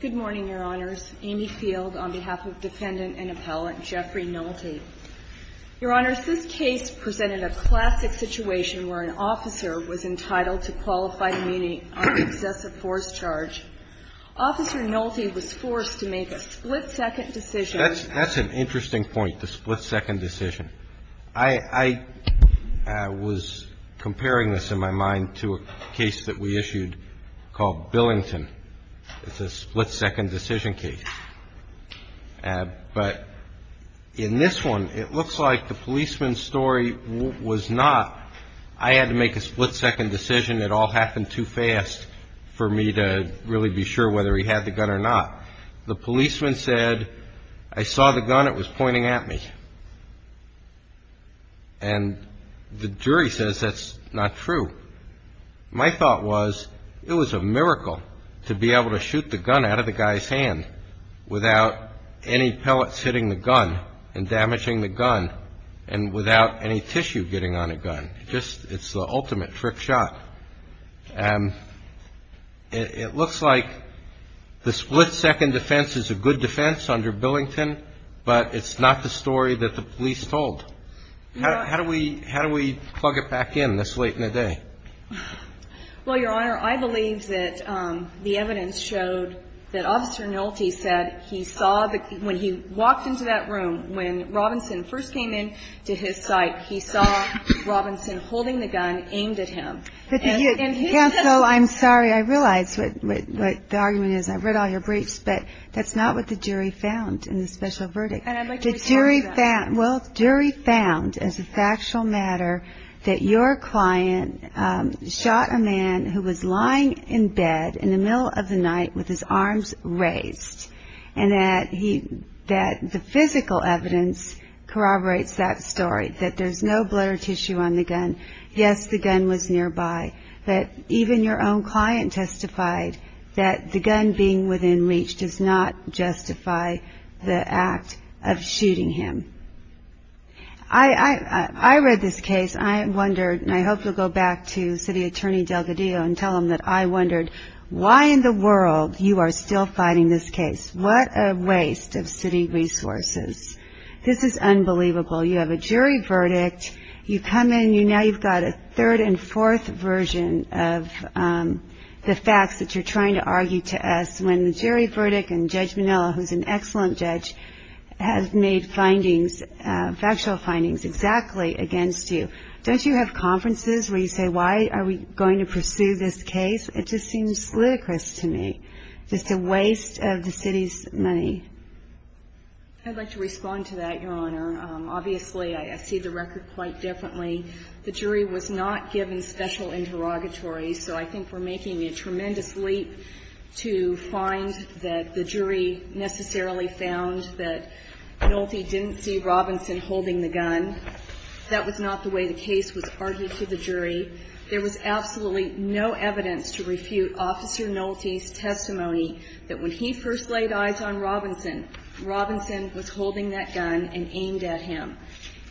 Good morning, Your Honors. Amy Field on behalf of Defendant and Appellant Jeffrey Nolte. Your Honors, this case presented a classic situation where an officer was entitled to qualify to meet an unexcessive force charge. Officer Nolte was forced to make a split-second decision. That's an interesting point, the split-second decision. I was comparing this in my mind to a case that we issued called Billington. It's a split-second decision case. But in this one, it looks like the policeman's story was not, I had to make a split-second decision. It all happened too fast for me to really be sure whether he had the gun or not. The policeman said, I saw the gun, it was pointing at me. And the jury says that's not true. My thought was it was a miracle to be able to shoot the gun out of the guy's hand without any pellets hitting the gun and damaging the gun and without any tissue getting on a gun. It's the ultimate trick shot. It looks like the split-second defense is a good defense under Billington, but it's not the story that the police told. How do we plug it back in this late in the day? Well, Your Honor, I believe that the evidence showed that Officer Nolte said he saw, when he walked into that room, when Robinson first came into his sight, he saw Robinson holding the gun aimed at him. Yeah, so I'm sorry. I realize what the argument is. I've read all your briefs, but that's not what the jury found in the special verdict. And I'd like you to explain that. Well, the jury found, as a factual matter, that your client shot a man who was lying in bed in the middle of the night with his arms raised, and that the physical evidence corroborates that story, that there's no blood or tissue on the gun. Yes, the gun was nearby. But even your own client testified that the gun being within reach does not justify the act of shooting him. I read this case and I wondered, and I hope you'll go back to City Attorney Delgadillo and tell him that I wondered, why in the world you are still fighting this case? What a waste of city resources. This is unbelievable. You have a jury verdict. You come in, now you've got a third and fourth version of the facts that you're trying to argue to us, when the jury verdict and Judge Manilla, who's an excellent judge, has made findings, factual findings, exactly against you. Don't you have conferences where you say, why are we going to pursue this case? It just seems ludicrous to me. Just a waste of the city's money. I'd like to respond to that, Your Honor. Obviously, I see the record quite differently. The jury was not given special interrogatories, so I think we're making a tremendous leap to find that the jury necessarily found that Nolte didn't see Robinson holding the gun. That was not the way the case was argued to the jury. There was absolutely no evidence to refute Officer Nolte's testimony that when he first laid eyes on Robinson, Robinson was holding that gun and aimed at him.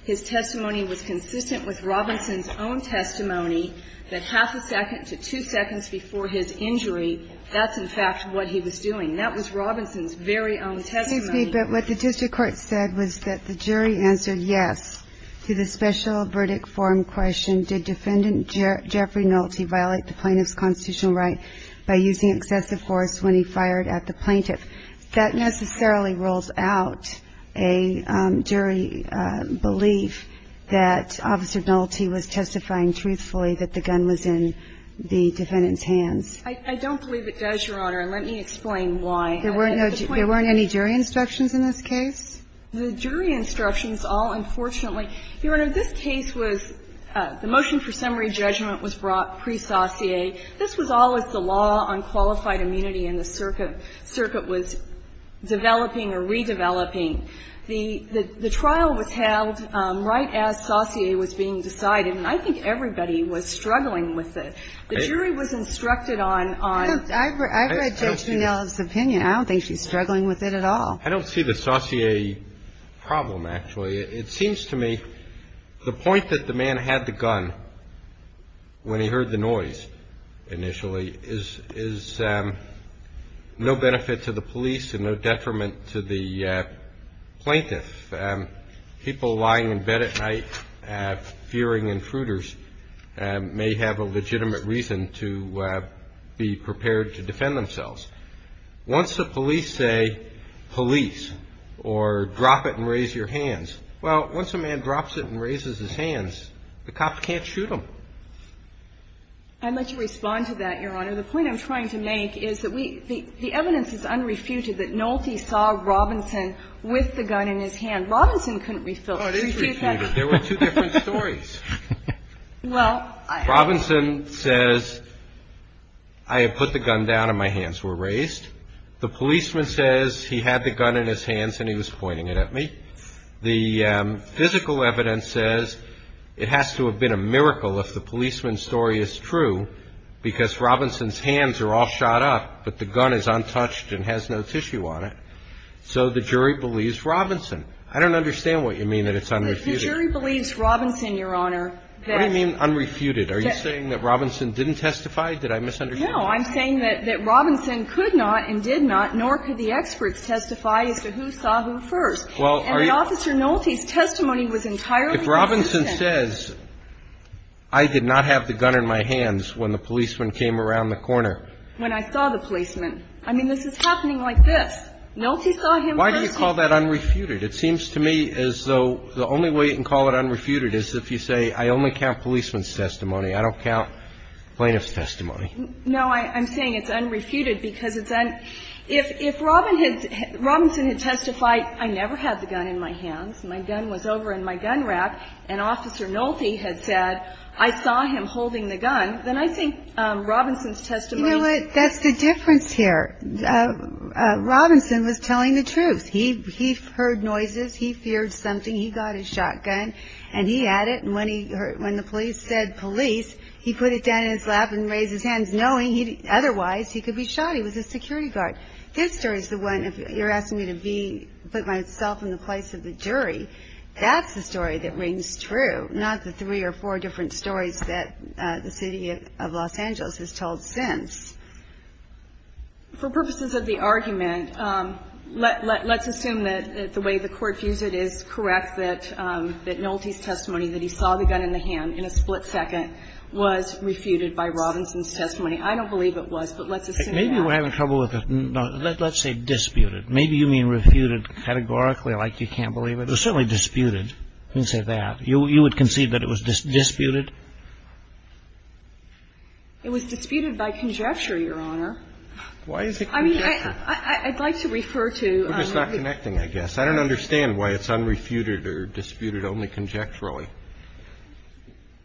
His testimony was consistent with Robinson's own testimony that half a second to two seconds before his injury, that's, in fact, what he was doing. That was Robinson's very own testimony. But what the district court said was that the jury answered yes to the special verdict forum question, did Defendant Jeffrey Nolte violate the plaintiff's constitutional right by using excessive force when he fired at the plaintiff? That necessarily rules out a jury belief that Officer Nolte was testifying truthfully that the gun was in the defendant's hands. I don't believe it does, Your Honor, and let me explain why. There weren't any jury instructions in this case? The jury instructions all, unfortunately. Your Honor, this case was the motion for summary judgment was brought presacie. This was all as the law on qualified immunity in the circuit was developing or redeveloping. The trial was held right as sacie was being decided, and I think everybody was struggling with it. The jury was instructed on the sacie. I read Judge Cannella's opinion. I don't think she's struggling with it at all. I don't see the sacie problem, actually. It seems to me the point that the man had the gun when he heard the noise initially is no benefit to the police and no detriment to the plaintiff. People lying in bed at night fearing intruders may have a legitimate reason to be prepared to defend themselves. Once the police say police or drop it and raise your hands, well, once a man drops it and raises his hands, the cop can't shoot him. I'd like to respond to that, Your Honor. The point I'm trying to make is that the evidence is unrefuted that Nolte saw Robinson with the gun in his hand. Robinson couldn't refute that. Oh, it is refuted. There were two different stories. Robinson says, I put the gun down and my hands were raised. The policeman says he had the gun in his hands and he was pointing it at me. The physical evidence says it has to have been a miracle if the policeman's story is true, because Robinson's hands are all shot up, but the gun is untouched and has no tissue on it. So the jury believes Robinson. I don't understand what you mean that it's unrefuted. The jury believes Robinson, Your Honor. What do you mean unrefuted? Are you saying that Robinson didn't testify? Did I misunderstand you? No. I'm saying that Robinson could not and did not, nor could the experts testify as to who saw who first. And Officer Nolte's testimony was entirely consistent. If Robinson says, I did not have the gun in my hands when the policeman came around the corner. When I saw the policeman. I mean, this is happening like this. Nolte saw him first. Why do you call that unrefuted? It seems to me as though the only way you can call it unrefuted is if you say, I only count policeman's testimony. I don't count plaintiff's testimony. No, I'm saying it's unrefuted because it's unrefuted. If Robinson had testified, I never had the gun in my hands, my gun was over in my gun rack, and Officer Nolte had said, I saw him holding the gun, then I think Robinson's testimony. You know what? That's the difference here. Robinson was telling the truth. He heard noises. He feared something. He got his shotgun, and he had it, and when the police said police, he put it down in his lap and raised his hands, knowing otherwise he could be shot. He was a security guard. This story is the one, if you're asking me to put myself in the place of the jury, that's the story that rings true, not the three or four different stories that the City of Los Angeles has told since. For purposes of the argument, let's assume that the way the Court views it is correct, that Nolte's testimony that he saw the gun in the hand in a split second was refuted by Robinson's testimony. I don't believe it was, but let's assume that. Maybe we're having trouble with it. Let's say disputed. Maybe you mean refuted categorically, like you can't believe it. It was certainly disputed. You can say that. You would concede that it was disputed? It was disputed by conjecture, Your Honor. Why is it conjecture? I mean, I'd like to refer to. We're just not connecting, I guess. I don't understand why it's unrefuted or disputed only conjecturally.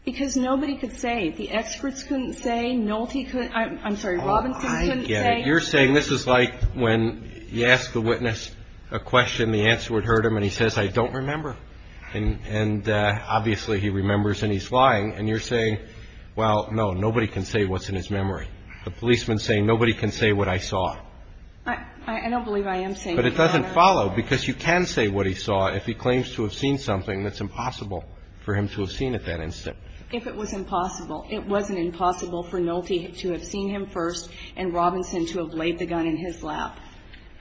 Because nobody could say. The experts couldn't say. Nolte couldn't. I'm sorry. Robinson couldn't say. Oh, I get it. You're saying this is like when you ask the witness a question, the answer would hurt him, and he says, I don't remember. And obviously he remembers and he's lying. And you're saying, well, no, nobody can say what's in his memory. The policeman's saying, nobody can say what I saw. I don't believe I am saying that, Your Honor. But it doesn't follow, because you can say what he saw if he claims to have seen something that's impossible for him to have seen at that instant. If it was impossible. It wasn't impossible for Nolte to have seen him first and Robinson to have laid the gun in his lap.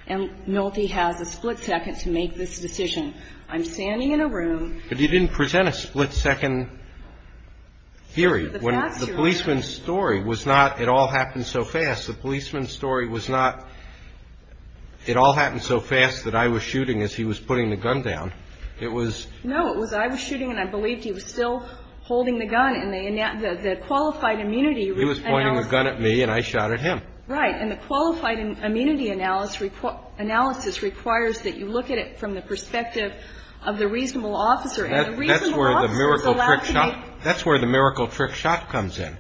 And Nolte has a split second to make this decision. I'm standing in a room. But you didn't present a split second theory. When the policeman's story was not, it all happened so fast. The policeman's story was not, it all happened so fast that I was shooting as he was putting the gun down. It was. No, it was I was shooting and I believed he was still holding the gun. And the qualified immunity. He was pointing the gun at me and I shot at him. And the qualified immunity analysis requires that you look at it from the perspective of the reasonable officer. And the reasonable officer is allowed to make. That's where the miracle trick shot comes in.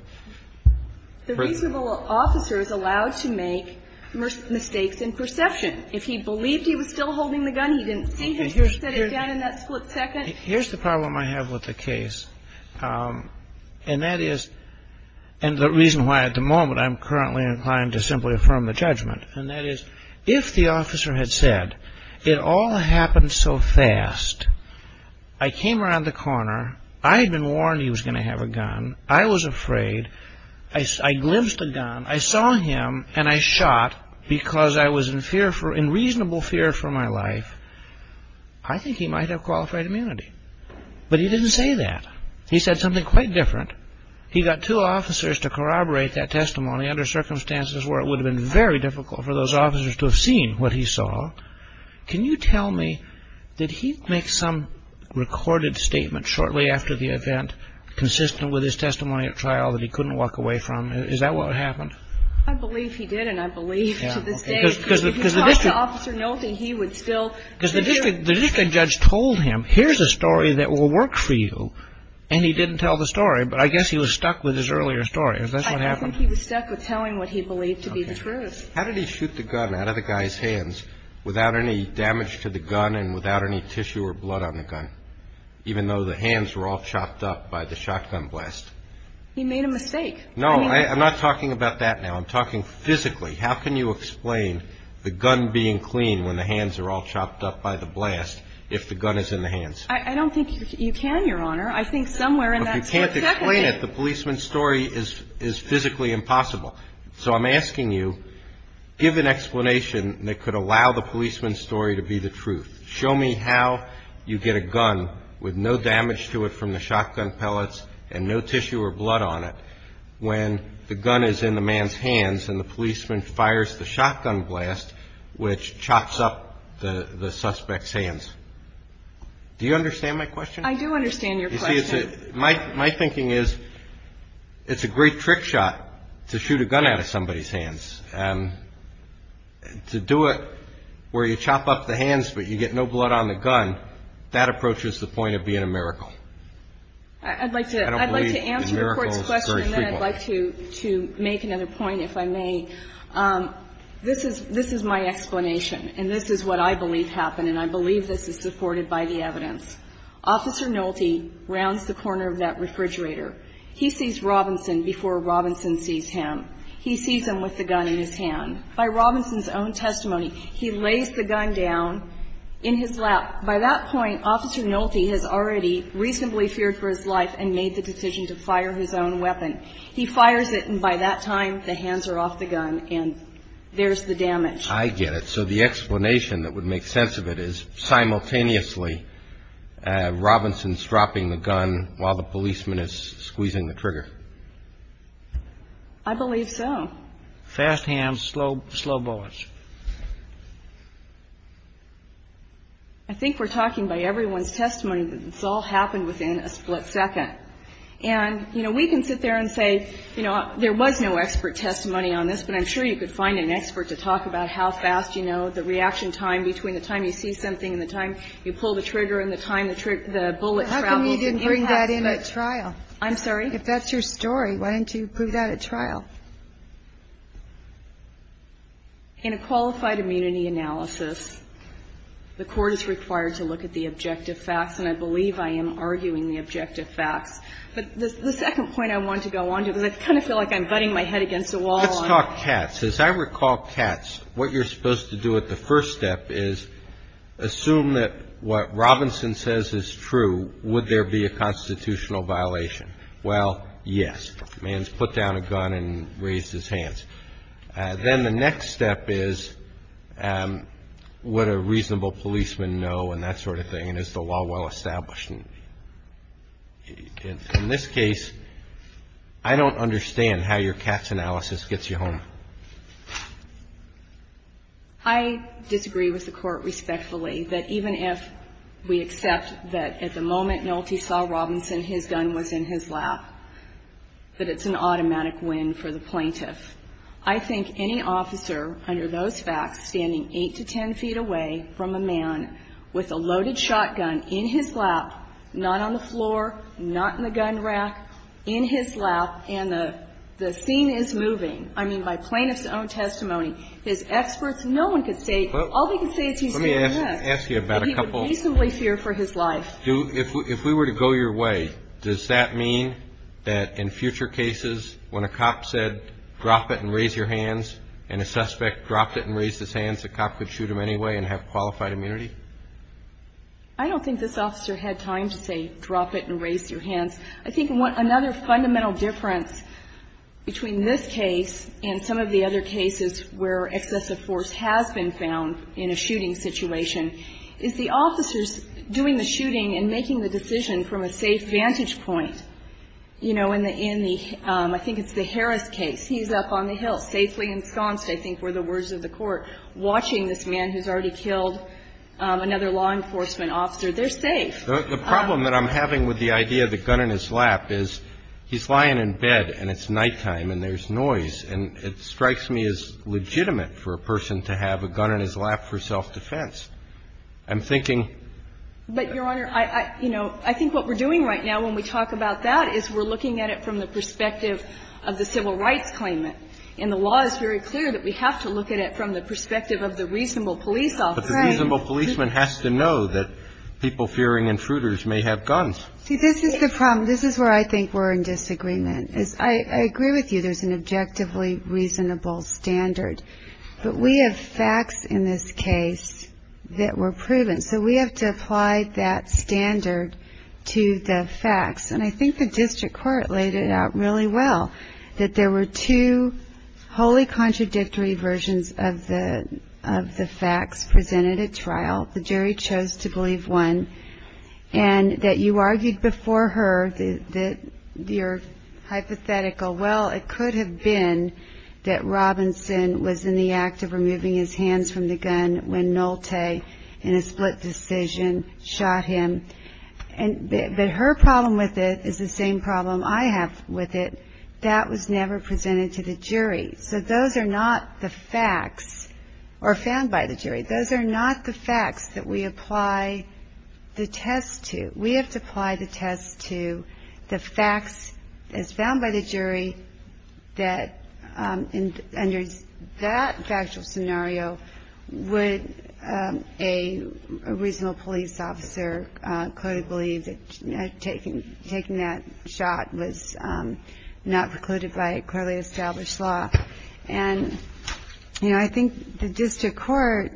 The reasonable officer is allowed to make mistakes in perception. If he believed he was still holding the gun, he didn't see him. He should have said it again in that split second. Here's the problem I have with the case. And that is. And the reason why at the moment I'm currently inclined to simply affirm the judgment. And that is if the officer had said it all happened so fast. I came around the corner. I had been warned he was going to have a gun. I was afraid. I glimpsed the gun. I saw him and I shot because I was in fear for in reasonable fear for my life. I think he might have qualified immunity. But he didn't say that. He said something quite different. He got two officers to corroborate that testimony under circumstances where it would have been very difficult for those officers to have seen what he saw. Can you tell me. Did he make some recorded statement shortly after the event. Consistent with his testimony at trial that he couldn't walk away from. Is that what happened. I believe he did. And I believe to this day. Because the officer. No, he would still because the different judge told him, here's a story that will work for you. And he didn't tell the story. But I guess he was stuck with his earlier story. Is that what happened. He was stuck with telling what he believed to be the truth. How did he shoot the gun out of the guy's hands without any damage to the gun and without any tissue or blood on the gun. Even though the hands were all chopped up by the shotgun blast. He made a mistake. No, I'm not talking about that. Now I'm talking physically. How can you explain the gun being clean when the hands are all chopped up by the blast if the gun is in the hands. I don't think you can, Your Honor. I think somewhere in that. If you can't explain it, the policeman's story is physically impossible. So I'm asking you, give an explanation that could allow the policeman's story to be the truth. Show me how you get a gun with no damage to it from the shotgun pellets and no tissue or blood on it. So the gun is in the man's hands and the policeman fires the shotgun blast, which chops up the suspect's hands. Do you understand my question? I do understand your question. My thinking is it's a great trick shot to shoot a gun out of somebody's hands. To do it where you chop up the hands but you get no blood on the gun, that approaches the point of being a miracle. I'd like to answer the Court's question and then I'd like to make another point if I may. This is my explanation and this is what I believe happened and I believe this is supported by the evidence. Officer Nolte rounds the corner of that refrigerator. He sees Robinson before Robinson sees him. He sees him with the gun in his hand. By Robinson's own testimony, he lays the gun down in his lap. By that point, Officer Nolte has already reasonably feared for his life and made the decision to fire his own weapon. He fires it and by that time, the hands are off the gun and there's the damage. I get it. So the explanation that would make sense of it is simultaneously Robinson's dropping the gun while the policeman is squeezing the trigger. I believe so. Fast hands, slow bullets. I think we're talking by everyone's testimony that this all happened within a split second. And, you know, we can sit there and say, you know, there was no expert testimony on this, but I'm sure you could find an expert to talk about how fast, you know, the reaction time between the time you see something and the time you pull the trigger and the time the bullet travels. How come you didn't bring that in at trial? I'm sorry? If that's your story, why didn't you prove that at trial? In a qualified immunity analysis, the court is required to look at the objective facts and I believe I am arguing the objective facts. But the second point I want to go on to is I kind of feel like I'm butting my head against a wall. Let's talk Katz. As I recall Katz, what you're supposed to do at the first step is assume that what Robinson says is true. Would there be a constitutional violation? Well, yes. If the man's put down a gun and raised his hands. Then the next step is would a reasonable policeman know and that sort of thing. And is the law well established? In this case, I don't understand how your Katz analysis gets you home. I disagree with the Court respectfully that even if we accept that at the moment Nolte saw Robinson, his gun was in his lap, that it's an automatic win for the plaintiff. I think any officer under those facts standing 8 to 10 feet away from a man with a loaded shotgun in his lap, not on the floor, not in the gun rack, in his lap, and the scene is moving. I mean, by plaintiff's own testimony, his experts, no one could say, all they could say is he's doing this. Let me ask you about a couple. That he would reasonably fear for his life. If we were to go your way, does that mean that in future cases when a cop said drop it and raise your hands and a suspect dropped it and raised his hands, the cop could shoot him anyway and have qualified immunity? I don't think this officer had time to say drop it and raise your hands. I think another fundamental difference between this case and some of the other cases where excessive force has been found in a shooting situation is the officers doing the shooting and making the decision from a safe vantage point. You know, in the Harris case, he's up on the hill safely ensconced, I think were the words of the Court, watching this man who's already killed another law enforcement officer. They're safe. The problem that I'm having with the idea of the gun in his lap is he's lying in bed and it's nighttime and there's noise. And it strikes me as legitimate for a person to have a gun in his lap for self-defense. I'm thinking. But, Your Honor, I think what we're doing right now when we talk about that is we're looking at it from the perspective of the civil rights claimant. And the law is very clear that we have to look at it from the perspective of the reasonable police officer. Right. But the reasonable policeman has to know that people fearing intruders may have guns. See, this is the problem. This is where I think we're in disagreement. I agree with you. There's an objectively reasonable standard. But we have facts in this case that were proven. So we have to apply that standard to the facts. And I think the district court laid it out really well, that there were two wholly contradictory versions of the facts presented at trial. The jury chose to believe one. And that you argued before her that you're hypothetical. Well, it could have been that Robinson was in the act of removing his hands from the gun when Nolte, in a split decision, shot him. But her problem with it is the same problem I have with it. That was never presented to the jury. Those are not the facts that we apply the test to. We have to apply the test to the facts as found by the jury that, under that factual scenario, would a reasonable police officer clearly believe that taking that shot was not precluded by a clearly established law. And, you know, I think the district court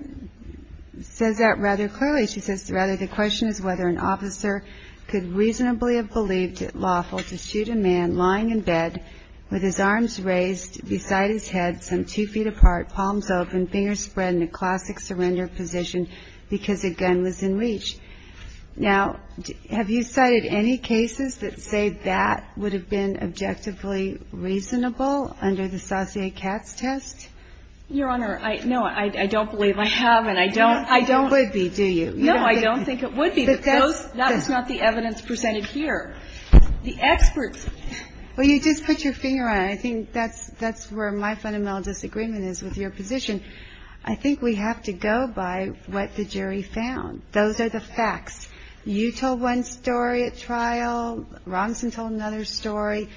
says that rather clearly. She says, rather, the question is whether an officer could reasonably have believed it lawful to shoot a man lying in bed with his arms raised beside his head, some two feet apart, palms open, fingers spread in a classic surrender position because a gun was in reach. Now, have you cited any cases that say that would have been objectively reasonable under the Saussure-Katz test? Your Honor, no, I don't believe I have. And I don't think it would be, do you? No, I don't think it would be. But that's not the evidence presented here. The experts. Well, you just put your finger on it. I think that's where my fundamental disagreement is with your position. I think we have to go by what the jury found. Those are the facts. You told one story at trial. Ronson told another story.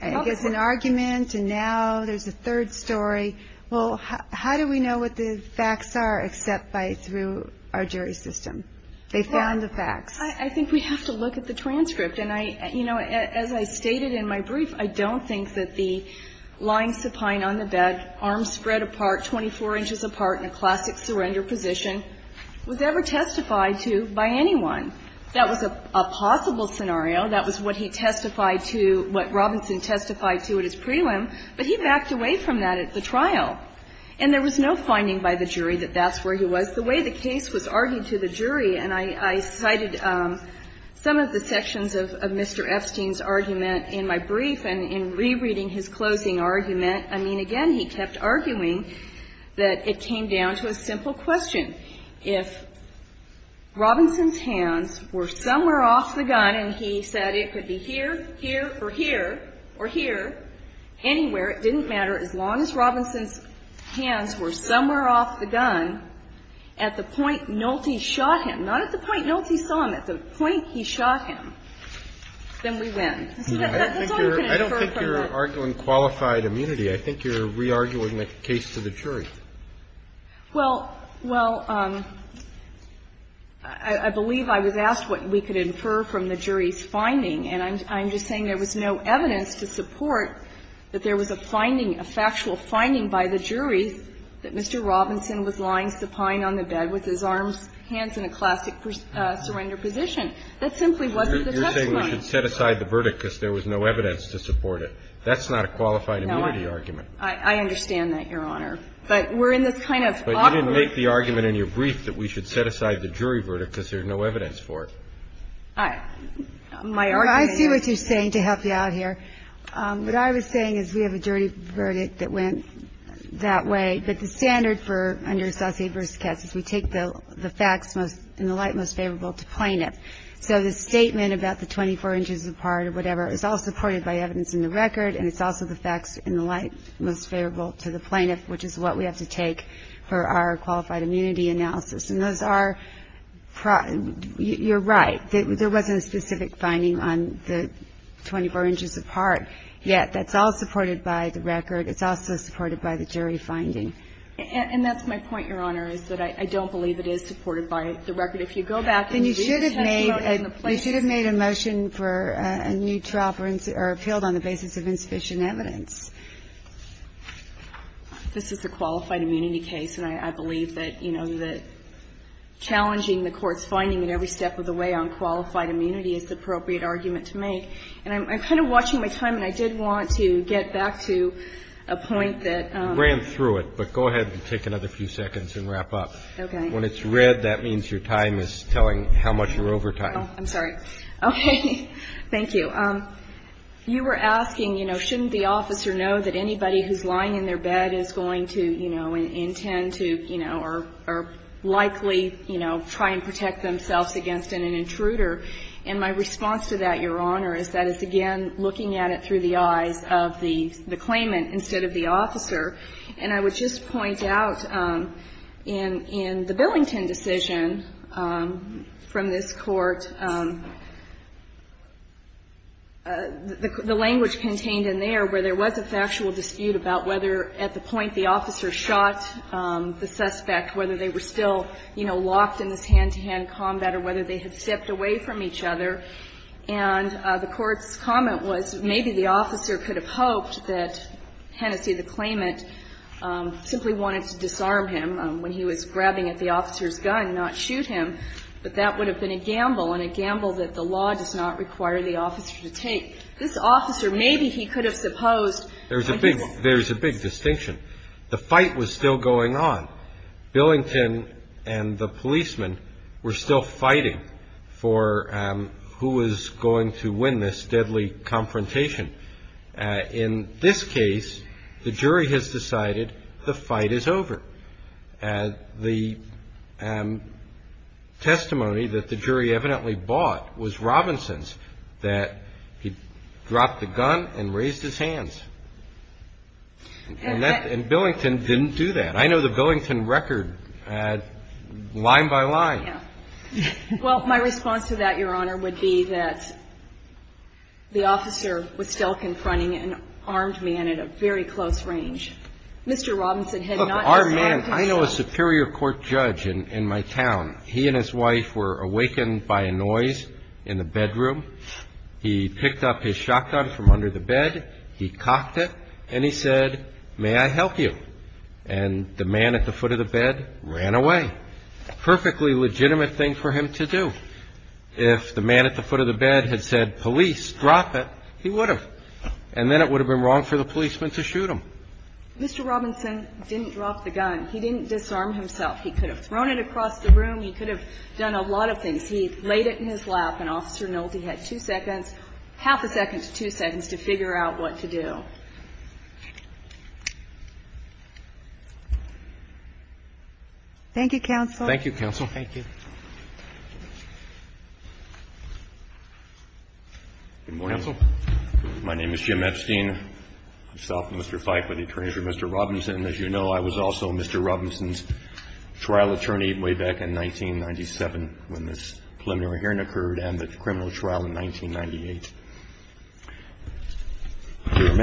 It's an argument. And now there's a third story. Well, how do we know what the facts are except through our jury system? They found the facts. I think we have to look at the transcript. And, you know, as I stated in my brief, I don't think that the lying supine on the bed, arms spread apart, 24 inches apart in a classic surrender position was ever testified to by anyone. That was a possible scenario. That was what he testified to, what Robinson testified to at his prelim. But he backed away from that at the trial. And there was no finding by the jury that that's where he was. The way the case was argued to the jury, and I cited some of the sections of Mr. Epstein's argument in my brief, and in rereading his closing argument, I mean, again, he kept arguing that it came down to a simple question. If Robinson's hands were somewhere off the gun and he said it could be here, here, or here, or here, anywhere, it didn't matter, as long as Robinson's hands were somewhere off the gun at the point Nolte shot him, not at the point Nolte saw him, at the point he shot him, then we win. That's all you can infer from that. I don't think you're arguing qualified immunity. I think you're re-arguing the case to the jury. Well, well, I believe I was asked what we could infer from the jury's finding, and I'm just saying there was no evidence to support that there was a finding, a factual finding by the jury that Mr. Robinson was lying supine on the bed with his arms, hands in a classic surrender position. That simply wasn't the testimony. You're saying we should set aside the verdict because there was no evidence to support That's not a qualified immunity argument. I understand that, Your Honor, but we're in this kind of awkward But you didn't make the argument in your brief that we should set aside the jury verdict because there's no evidence for it. My argument is Well, I see what you're saying to help you out here. What I was saying is we have a jury verdict that went that way, but the standard for under associate versus case is we take the facts in the light most favorable to plaintiff. So the statement about the 24 inches apart or whatever is all supported by evidence in the record, and it's also the facts in the light most favorable to the plaintiff, which is what we have to take for our qualified immunity analysis. And those are you're right. There wasn't a specific finding on the 24 inches apart, yet. That's all supported by the record. It's also supported by the jury finding. And that's my point, Your Honor, is that I don't believe it is supported by the record. If you go back and you do the testimony in the place They should have made a motion for a new trial or appealed on the basis of insufficient evidence. This is a qualified immunity case, and I believe that, you know, that challenging the court's finding at every step of the way on qualified immunity is the appropriate argument to make. And I'm kind of watching my time, and I did want to get back to a point that You ran through it, but go ahead and take another few seconds and wrap up. Okay. When it's red, that means your time is telling how much you're over time. I'm sorry. Okay. Thank you. You were asking, you know, shouldn't the officer know that anybody who is lying in their bed is going to, you know, intend to, you know, or likely, you know, try and protect themselves against an intruder? And my response to that, Your Honor, is that it's, again, looking at it through the eyes of the claimant instead of the officer. And I would just point out in the Billington decision from this Court, the language contained in there where there was a factual dispute about whether at the point the officer shot the suspect, whether they were still, you know, locked in this hand-to-hand combat or whether they had stepped away from each other, and the Court's judgment simply wanted to disarm him when he was grabbing at the officer's gun, not shoot him. But that would have been a gamble, and a gamble that the law does not require the officer to take. This officer, maybe he could have supposed. There's a big distinction. The fight was still going on. Billington and the policemen were still fighting for who was going to win this deadly confrontation. In this case, the jury has decided the fight is over. The testimony that the jury evidently bought was Robinson's, that he dropped the gun and raised his hands. And Billington didn't do that. I know the Billington record line by line. Well, my response to that, Your Honor, would be that the officer was still confronting an armed man at a very close range. Mr. Robinson had not been armed himself. Look, armed man, I know a superior court judge in my town. He and his wife were awakened by a noise in the bedroom. He picked up his shotgun from under the bed. He cocked it, and he said, may I help you? And the man at the foot of the bed ran away. That's a perfectly legitimate thing for him to do. If the man at the foot of the bed had said, police, drop it, he would have. And then it would have been wrong for the policeman to shoot him. Mr. Robinson didn't drop the gun. He didn't disarm himself. He could have thrown it across the room. He could have done a lot of things. He laid it in his lap, and Officer Nolte had two seconds, half a second to two seconds, to figure out what to do. Thank you, counsel. Thank you, counsel. Thank you. Good morning. Counsel. My name is Jim Epstein. Myself and Mr. Fyke were the attorneys for Mr. Robinson. As you know, I was also Mr. Robinson's trial attorney way back in 1997 when this preliminary There are many aspects of the trial that I would like to highlight.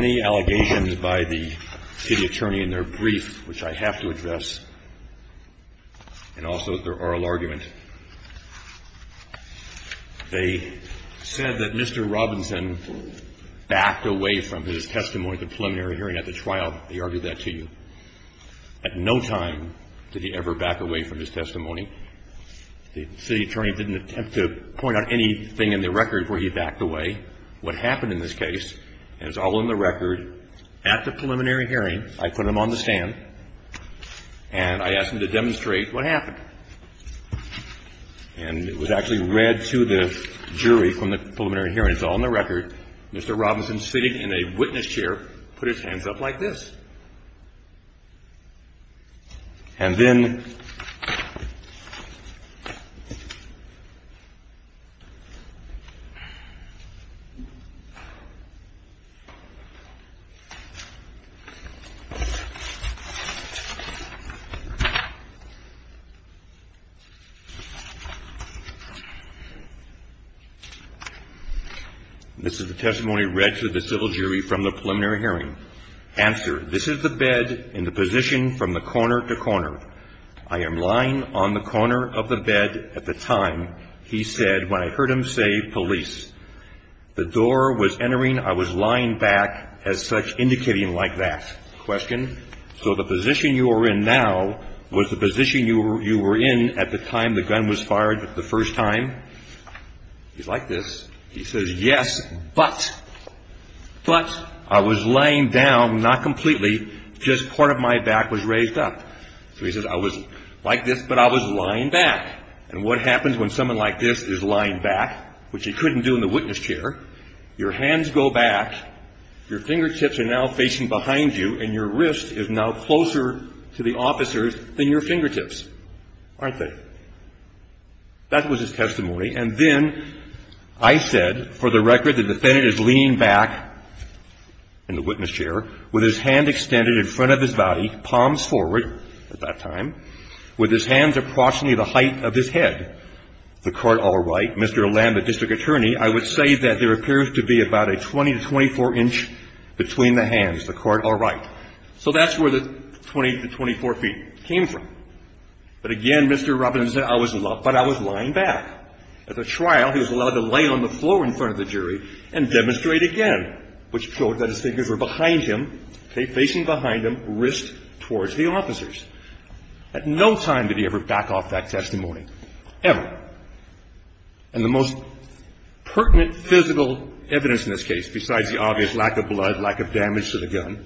The allegations by the city attorney in their brief, which I have to address, and also their oral argument. They said that Mr. Robinson backed away from his testimony at the preliminary hearing at the trial. They argued that to you. At no time did he ever back away from his testimony. The city attorney didn't attempt to point out anything in the record where he backed away. I asked Mr. Robinson to show me what happened in this case, and it's all in the record. At the preliminary hearing, I put him on the stand, and I asked him to demonstrate what happened. And it was actually read to the jury from the preliminary hearing, it's all in the record, Mr. Robinson sitting in a witness chair put his hands up like this. And then this is the testimony read to the civil jury from the preliminary hearing. Answer, this is the bed in the position from the corner to corner. I am lying on the corner of the bed at the time, he said, when I heard him say police. The door was entering, I was lying back as such, indicating like that. Question, so the position you are in now was the position you were in at the time the gun was fired the first time? He's like this, he says, yes, but. But I was laying down, not completely, just part of my back was raised up. So he says, I was like this, but I was lying back. And what happens when someone like this is lying back, which he couldn't do in the witness chair, your hands go back, your fingertips are now facing behind you, and your wrist is now closer to the officers than your fingertips, aren't they? That was his testimony. And then I said, for the record, the defendant is leaning back in the witness chair with his hand extended in front of his body, palms forward at that time, with his hands approximately the height of his head. The court, all right. Mr. Lamb, the district attorney, I would say that there appears to be about a 20 to 24 inch between the hands. The court, all right. So that's where the 20 to 24 feet came from. But again, Mr. Robinson said I was lying back. At the trial, he was allowed to lay on the floor in front of the jury and demonstrate again, which showed that his fingers were behind him, okay, facing behind him, wrist towards the officers. At no time did he ever back off that testimony, ever. And the most pertinent physical evidence in this case, besides the obvious lack of blood, lack of damage to the gun,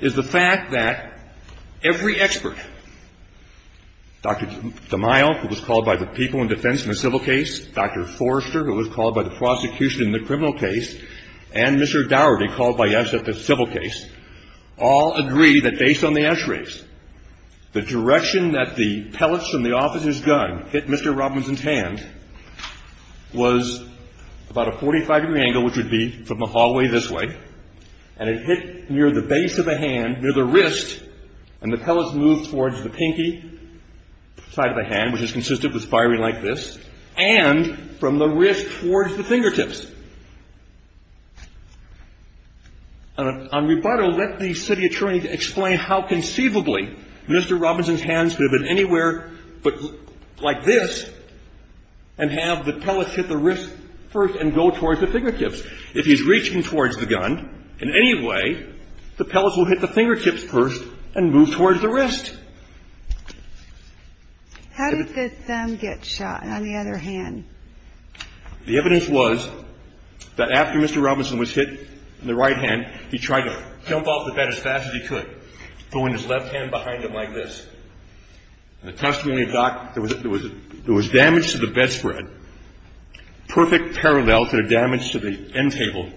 is the fact that every expert, Dr. DeMille, who was called by the people in defense in a civil case, Dr. Forrester, who was called by the prosecution in the criminal case, and Mr. Dougherty, called by us at the civil case, all agree that based on the x-rays, the direction that the pellets from the officer's gun hit Mr. Robinson's hand was about a 45 degree angle, which would be from the hallway this way. And it hit near the base of the hand, near the wrist. And the pellets moved towards the pinky side of the hand, which is consistent with firing like this. And from the wrist towards the fingertips. On rebuttal, let the city attorney explain how conceivably Mr. Robinson's hands could have been anywhere but like this and have the pellets hit the wrist first and go towards the fingertips. If he's reaching towards the gun in any way, the pellets will hit the fingertips first and move towards the wrist. How did the thumb get shot on the other hand? The evidence was that after Mr. Robinson was hit in the right hand, he tried to jump off the bed as fast as he could, throwing his left hand behind him like this. In the testimony of Doc, there was damage to the bedspread, perfect parallel to the damage to the end table,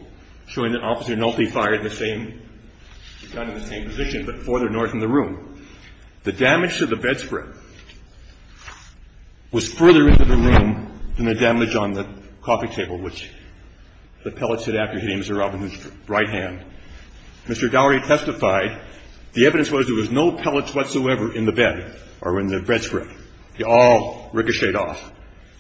showing that Officer Nolte fired the same gun in the same position, but further north in the room. The damage to the bedspread was further into the room than the damage on the coffee table, which the pellets hit after hitting Mr. Robinson's right hand. Mr. Dougherty testified the evidence was there was no pellets whatsoever in the bed or in the bedspread. They all ricocheted off.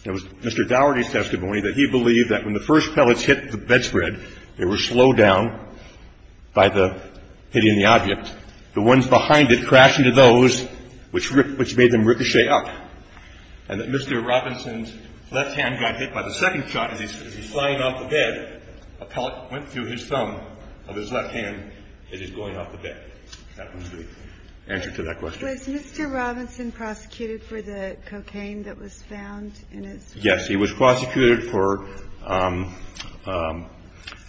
It was Mr. Dougherty's testimony that he believed that when the first pellets hit the bedspread, they were slowed down by the hitting the object. The ones behind it crashed into those, which made them ricochet up, and that Mr. Robinson's left hand got hit by the second shot as he was flying off the bed. A pellet went through his thumb of his left hand as he was going off the bed. That was the answer to that question. Was Mr. Robinson prosecuted for the cocaine that was found in his room? Yes, he was prosecuted for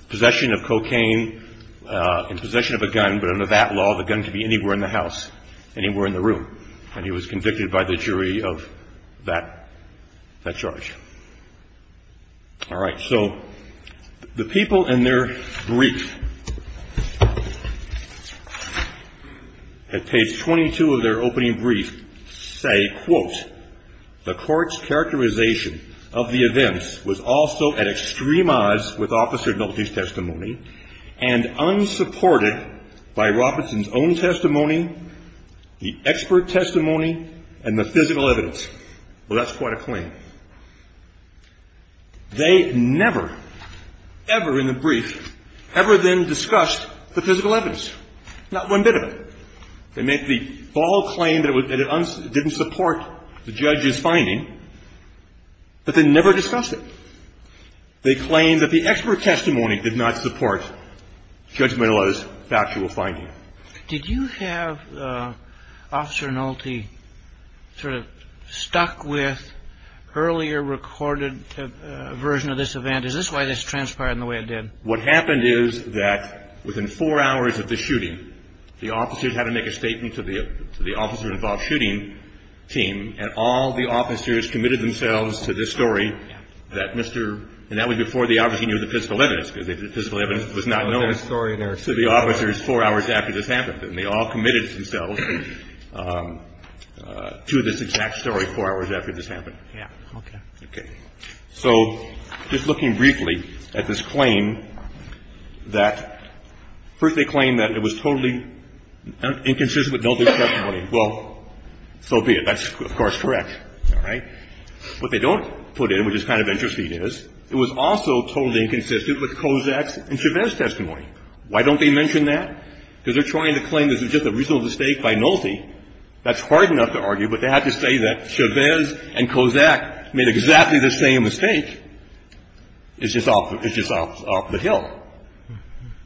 possession of cocaine and possession of a gun, but under that law, the gun could be anywhere in the house, anywhere in the room, and he was convicted by the jury of that charge. All right. So the people in their brief at page 22 of their opening brief say, quote, the court's characterization of the events was also at extreme odds with Officer Nolte's testimony and unsupported by Robinson's own testimony, the expert testimony, and the physical evidence. Well, that's quite a claim. They never, ever in the brief, ever then discussed the physical evidence, not one bit of it. They make the bold claim that it didn't support the judge's finding, but they never discussed it. They claim that the expert testimony did not support Judge Menlo's factual finding. Did you have Officer Nolte sort of stuck with earlier recorded version of this event? Is this why this transpired in the way it did? What happened is that within four hours of the shooting, the officers had to make a statement to the officer involved shooting team, and all the officers committed themselves to this story that Mr. And that was before the officer knew the physical evidence, because the physical evidence was not known to the officers four hours after this happened. And they all committed themselves to this exact story four hours after this happened. Okay. So just looking briefly at this claim, that first they claim that it was totally inconsistent with Nolte's testimony. Well, so be it. That's, of course, correct. All right. What they don't put in, which is kind of interesting, is it was also totally inconsistent with Kozak's and Chavez's testimony. Why don't they mention that? Because they're trying to claim this is just a reasonable mistake by Nolte. That's hard enough to argue, but they have to say that Chavez and Kozak made exactly the same mistake. It's just off the hill.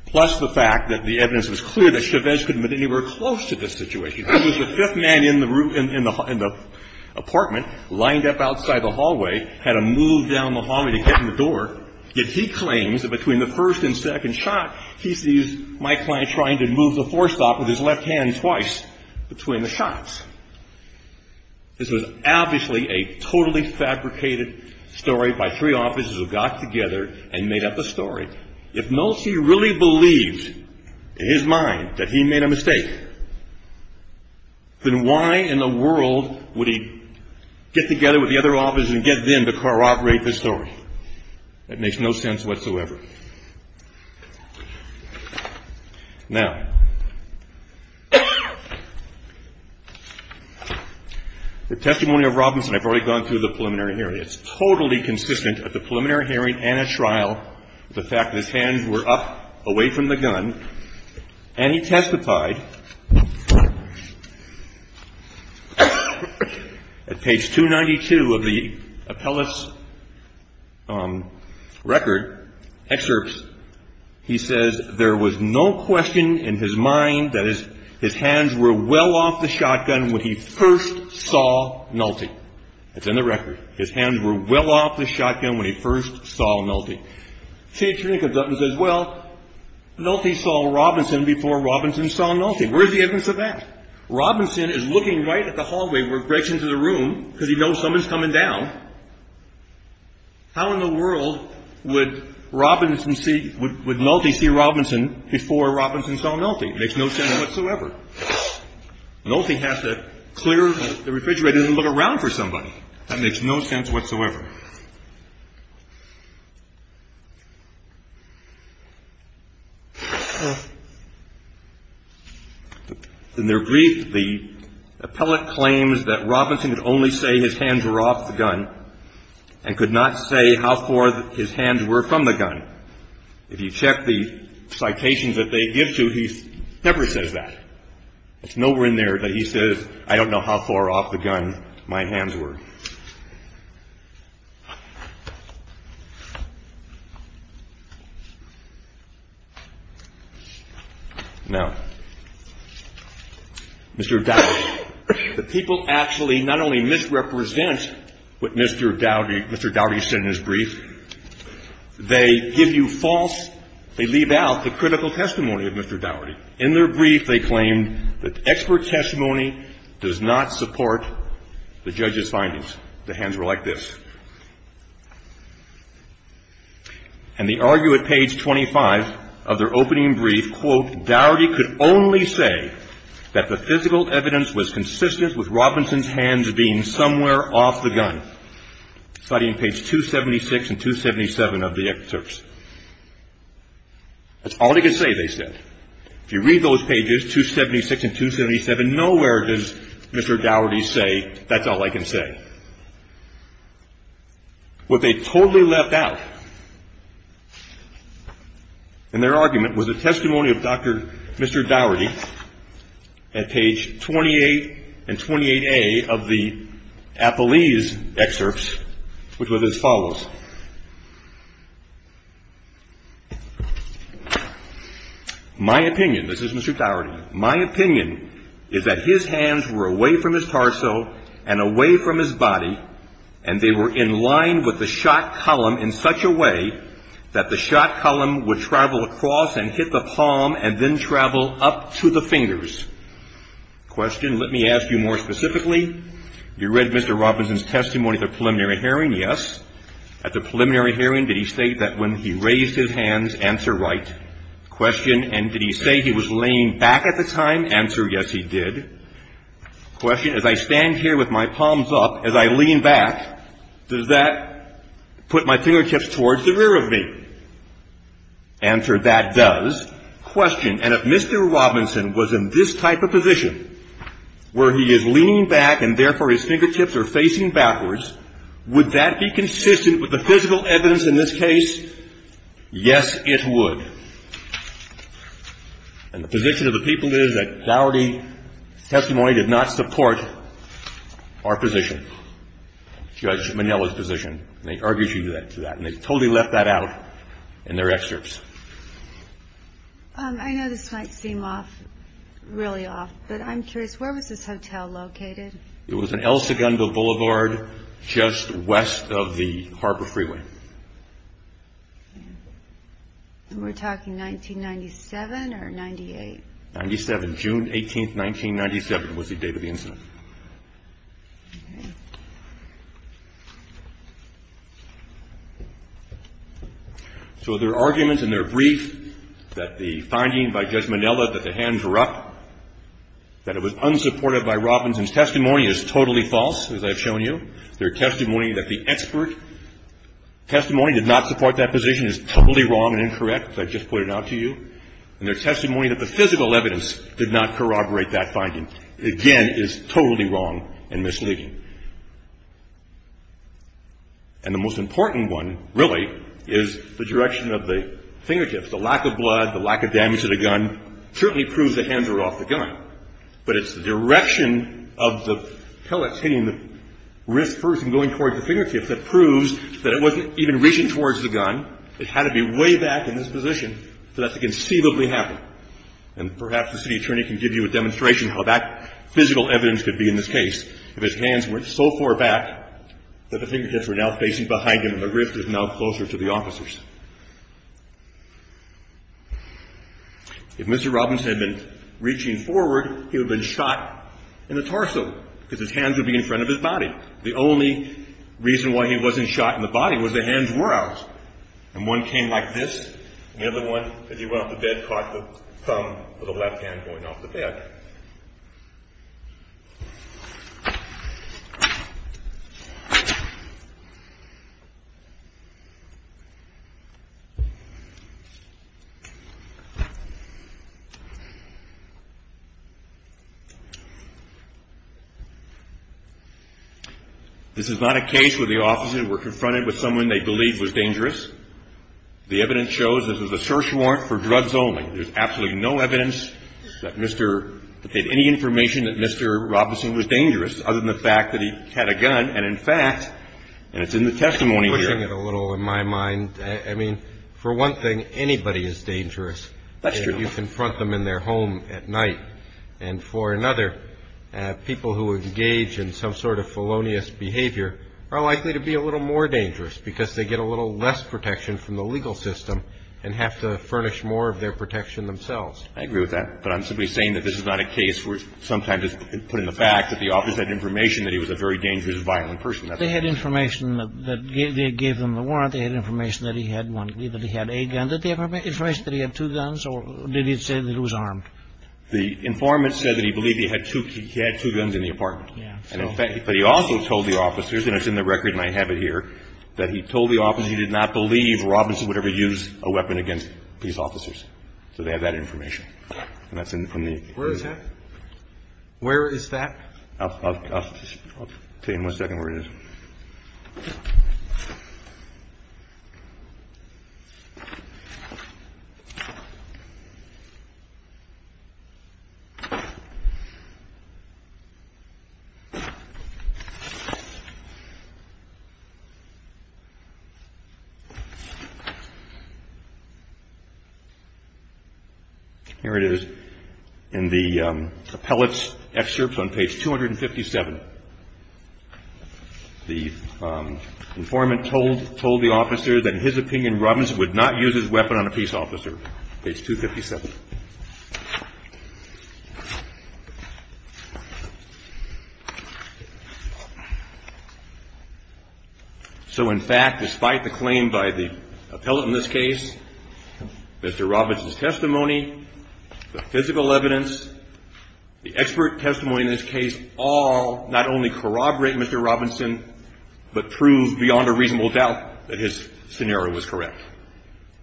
Plus the fact that the evidence was clear that Chavez couldn't have been anywhere close to this situation. He was the fifth man in the room, in the apartment, lined up outside the hallway, had to move down the hallway to get in the door. Yet he claims that between the first and second shot, he sees my client trying to move the four-stop with his left hand twice between the shots. This was obviously a totally fabricated story by three officers who got together and made up a story. If Nolte really believed in his mind that he made a mistake, then why in the world would he get together with the other officers and get them to corroborate this story? That makes no sense whatsoever. Now, the testimony of Robinson, I've already gone through the preliminary hearing. It's totally consistent at the preliminary hearing and at trial with the fact that his hands were up away from the gun. And he testified at page 292 of the appellate's record, excerpts. He says there was no question in his mind that his hands were well off the shotgun when he first saw Nolte. It's in the record. His hands were well off the shotgun when he first saw Nolte. Page 292 comes up and says, well, Nolte saw Robinson before Robinson saw Nolte. Where's the evidence of that? Robinson is looking right at the hallway where it breaks into the room because he knows someone's coming down. How in the world would Nolte see Robinson before Robinson saw Nolte? It makes no sense whatsoever. Nolte has to clear the refrigerator and look around for somebody. That makes no sense whatsoever. In their brief, the appellate claims that Robinson could only say his hands were off the gun and could not say how far his hands were from the gun. If you check the citations that they give to you, he never says that. It's nowhere in there that he says, I don't know how far off the gun my hands were. Now, Mr. Dowdy, the people actually not only misrepresent what Mr. Dowdy said in his brief, they give you false, they leave out the critical testimony of Mr. Dowdy. In their brief, they claim that expert testimony does not support the judge's findings, the hands were like this. And they argue at page 25 of their opening brief, quote, Dowdy could only say that the physical evidence was consistent with Robinson's hands being somewhere off the gun. Study in page 276 and 277 of the excerpts. That's all he could say, they said. If you read those pages, 276 and 277, nowhere does Mr. Dowdy say, that's all I can say. What they totally left out in their argument was a testimony of Dr. Mr. Dowdy at page 28 and 28A of the Apollese excerpts, which were as follows. My opinion, this is Mr. Dowdy, my opinion is that his hands were away from his torso and away from his body, and they were in line with the shot column in such a way that the shot column would travel across and hit the palm and then travel up to the fingers. Question, let me ask you more specifically. You read Mr. Robinson's testimony at the preliminary hearing, yes. At the preliminary hearing, did he state that when he raised his hands, answer right. Question, and did he say he was laying back at the time? Answer, yes, he did. Question, as I stand here with my palms up, as I lean back, does that put my fingertips towards the rear of me? Answer, that does. Question, and if Mr. Robinson was in this type of position where he is leaning back and, therefore, his fingertips are facing backwards, would that be consistent with the physical evidence in this case? Yes, it would. And the position of the people is that Dowdy's testimony did not support our position, Judge Minello's position, and they argued to that, and they totally left that out in their excerpts. I know this might seem off, really off, but I'm curious, where was this hotel located? It was an El Segundo Boulevard just west of the Harbor Freeway. And we're talking 1997 or 98? 97, June 18th, 1997 was the date of the incident. So their arguments in their brief that the finding by Judge Minello that the hands were up, that it was unsupported by Robinson's testimony is totally false, as I've shown you. Their testimony that the expert testimony did not support that position is totally wrong and incorrect, as I just put it out to you, and their testimony that the physical evidence did not corroborate that finding, again, is totally wrong and misleading. And the most important one, really, is the direction of the fingertips. The lack of blood, the lack of damage to the gun certainly proves the hands were off the gun, but it's the direction of the pellets hitting the wrist first and going towards the fingertips that proves that it wasn't even reaching towards the gun. It had to be way back in this position for that to conceivably happen. And perhaps the city attorney can give you a demonstration how that physical evidence could be in this case if his hands went so far back that the fingertips were now facing behind him and the wrist is now closer to the officers. If Mr. Robinson had been reaching forward, he would have been shot in the torso because his hands would be in front of his body. The only reason why he wasn't shot in the body was the hands were out, and one came like this, and the other one, as he went off the bed, caught the thumb of the left hand going off the bed. This is not a case where the officers were confronted with someone they believed was dangerous. The evidence shows this was a search warrant for drugs only. There's absolutely no evidence that they had any information that Mr. Robinson was dangerous other than the fact that he had a gun, and in fact, and it's in the testimony here. I'm pushing it a little in my mind. I mean, for one thing, anybody is dangerous if you confront them in their home at night. And for another, people who engage in some sort of felonious behavior are likely to be a little more dangerous because they get a little less protection from the legal system and have to furnish more of their protection themselves. I agree with that, but I'm simply saying that this is not a case where sometimes it's put in the back that the officer had information that he was a very dangerous, violent person. They had information that gave them the warrant. They had information that he had one, that he had a gun. Did they have information that he had two guns, or did he say that he was armed? The informant said that he believed he had two guns in the apartment. But he also told the officers, and it's in the record and I have it here, that he told the officers he did not believe Robinson would ever use a weapon against these officers. So they have that information. And that's in the testimony. Where is that? I'll tell you in a second where it is. Here it is in the appellate's excerpts on page 257. The informant told the officers that in his opinion, Robinson would not use his weapon on a peace officer, page 257. So in fact, despite the claim by the appellate in this case, Mr. Robinson's testimony, the physical evidence, the expert testimony in this case all not only corroborate Mr. Robinson, but prove beyond a reasonable doubt that his scenario was correct.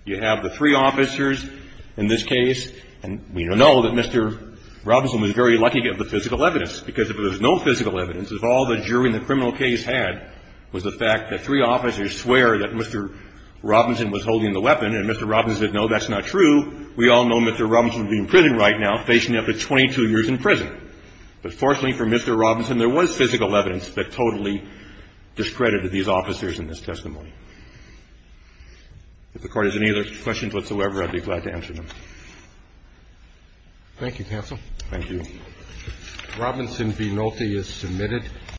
You have the three officers in this case, and we know that Mr. Robinson was very lucky to get the physical evidence, because if there was no physical evidence, if all the jury in the criminal case had was the fact that three officers swear that Mr. Robinson was holding the weapon, and Mr. Robinson said, no, that's not true, we all know Mr. Robinson would be in prison right now, facing up to 22 years in prison. But fortunately for Mr. Robinson, there was physical evidence that totally discredited these officers in this testimony. If the Court has any other questions whatsoever, I'd be glad to answer them. Thank you, counsel. Thank you. Robinson v. Nolte is submitted.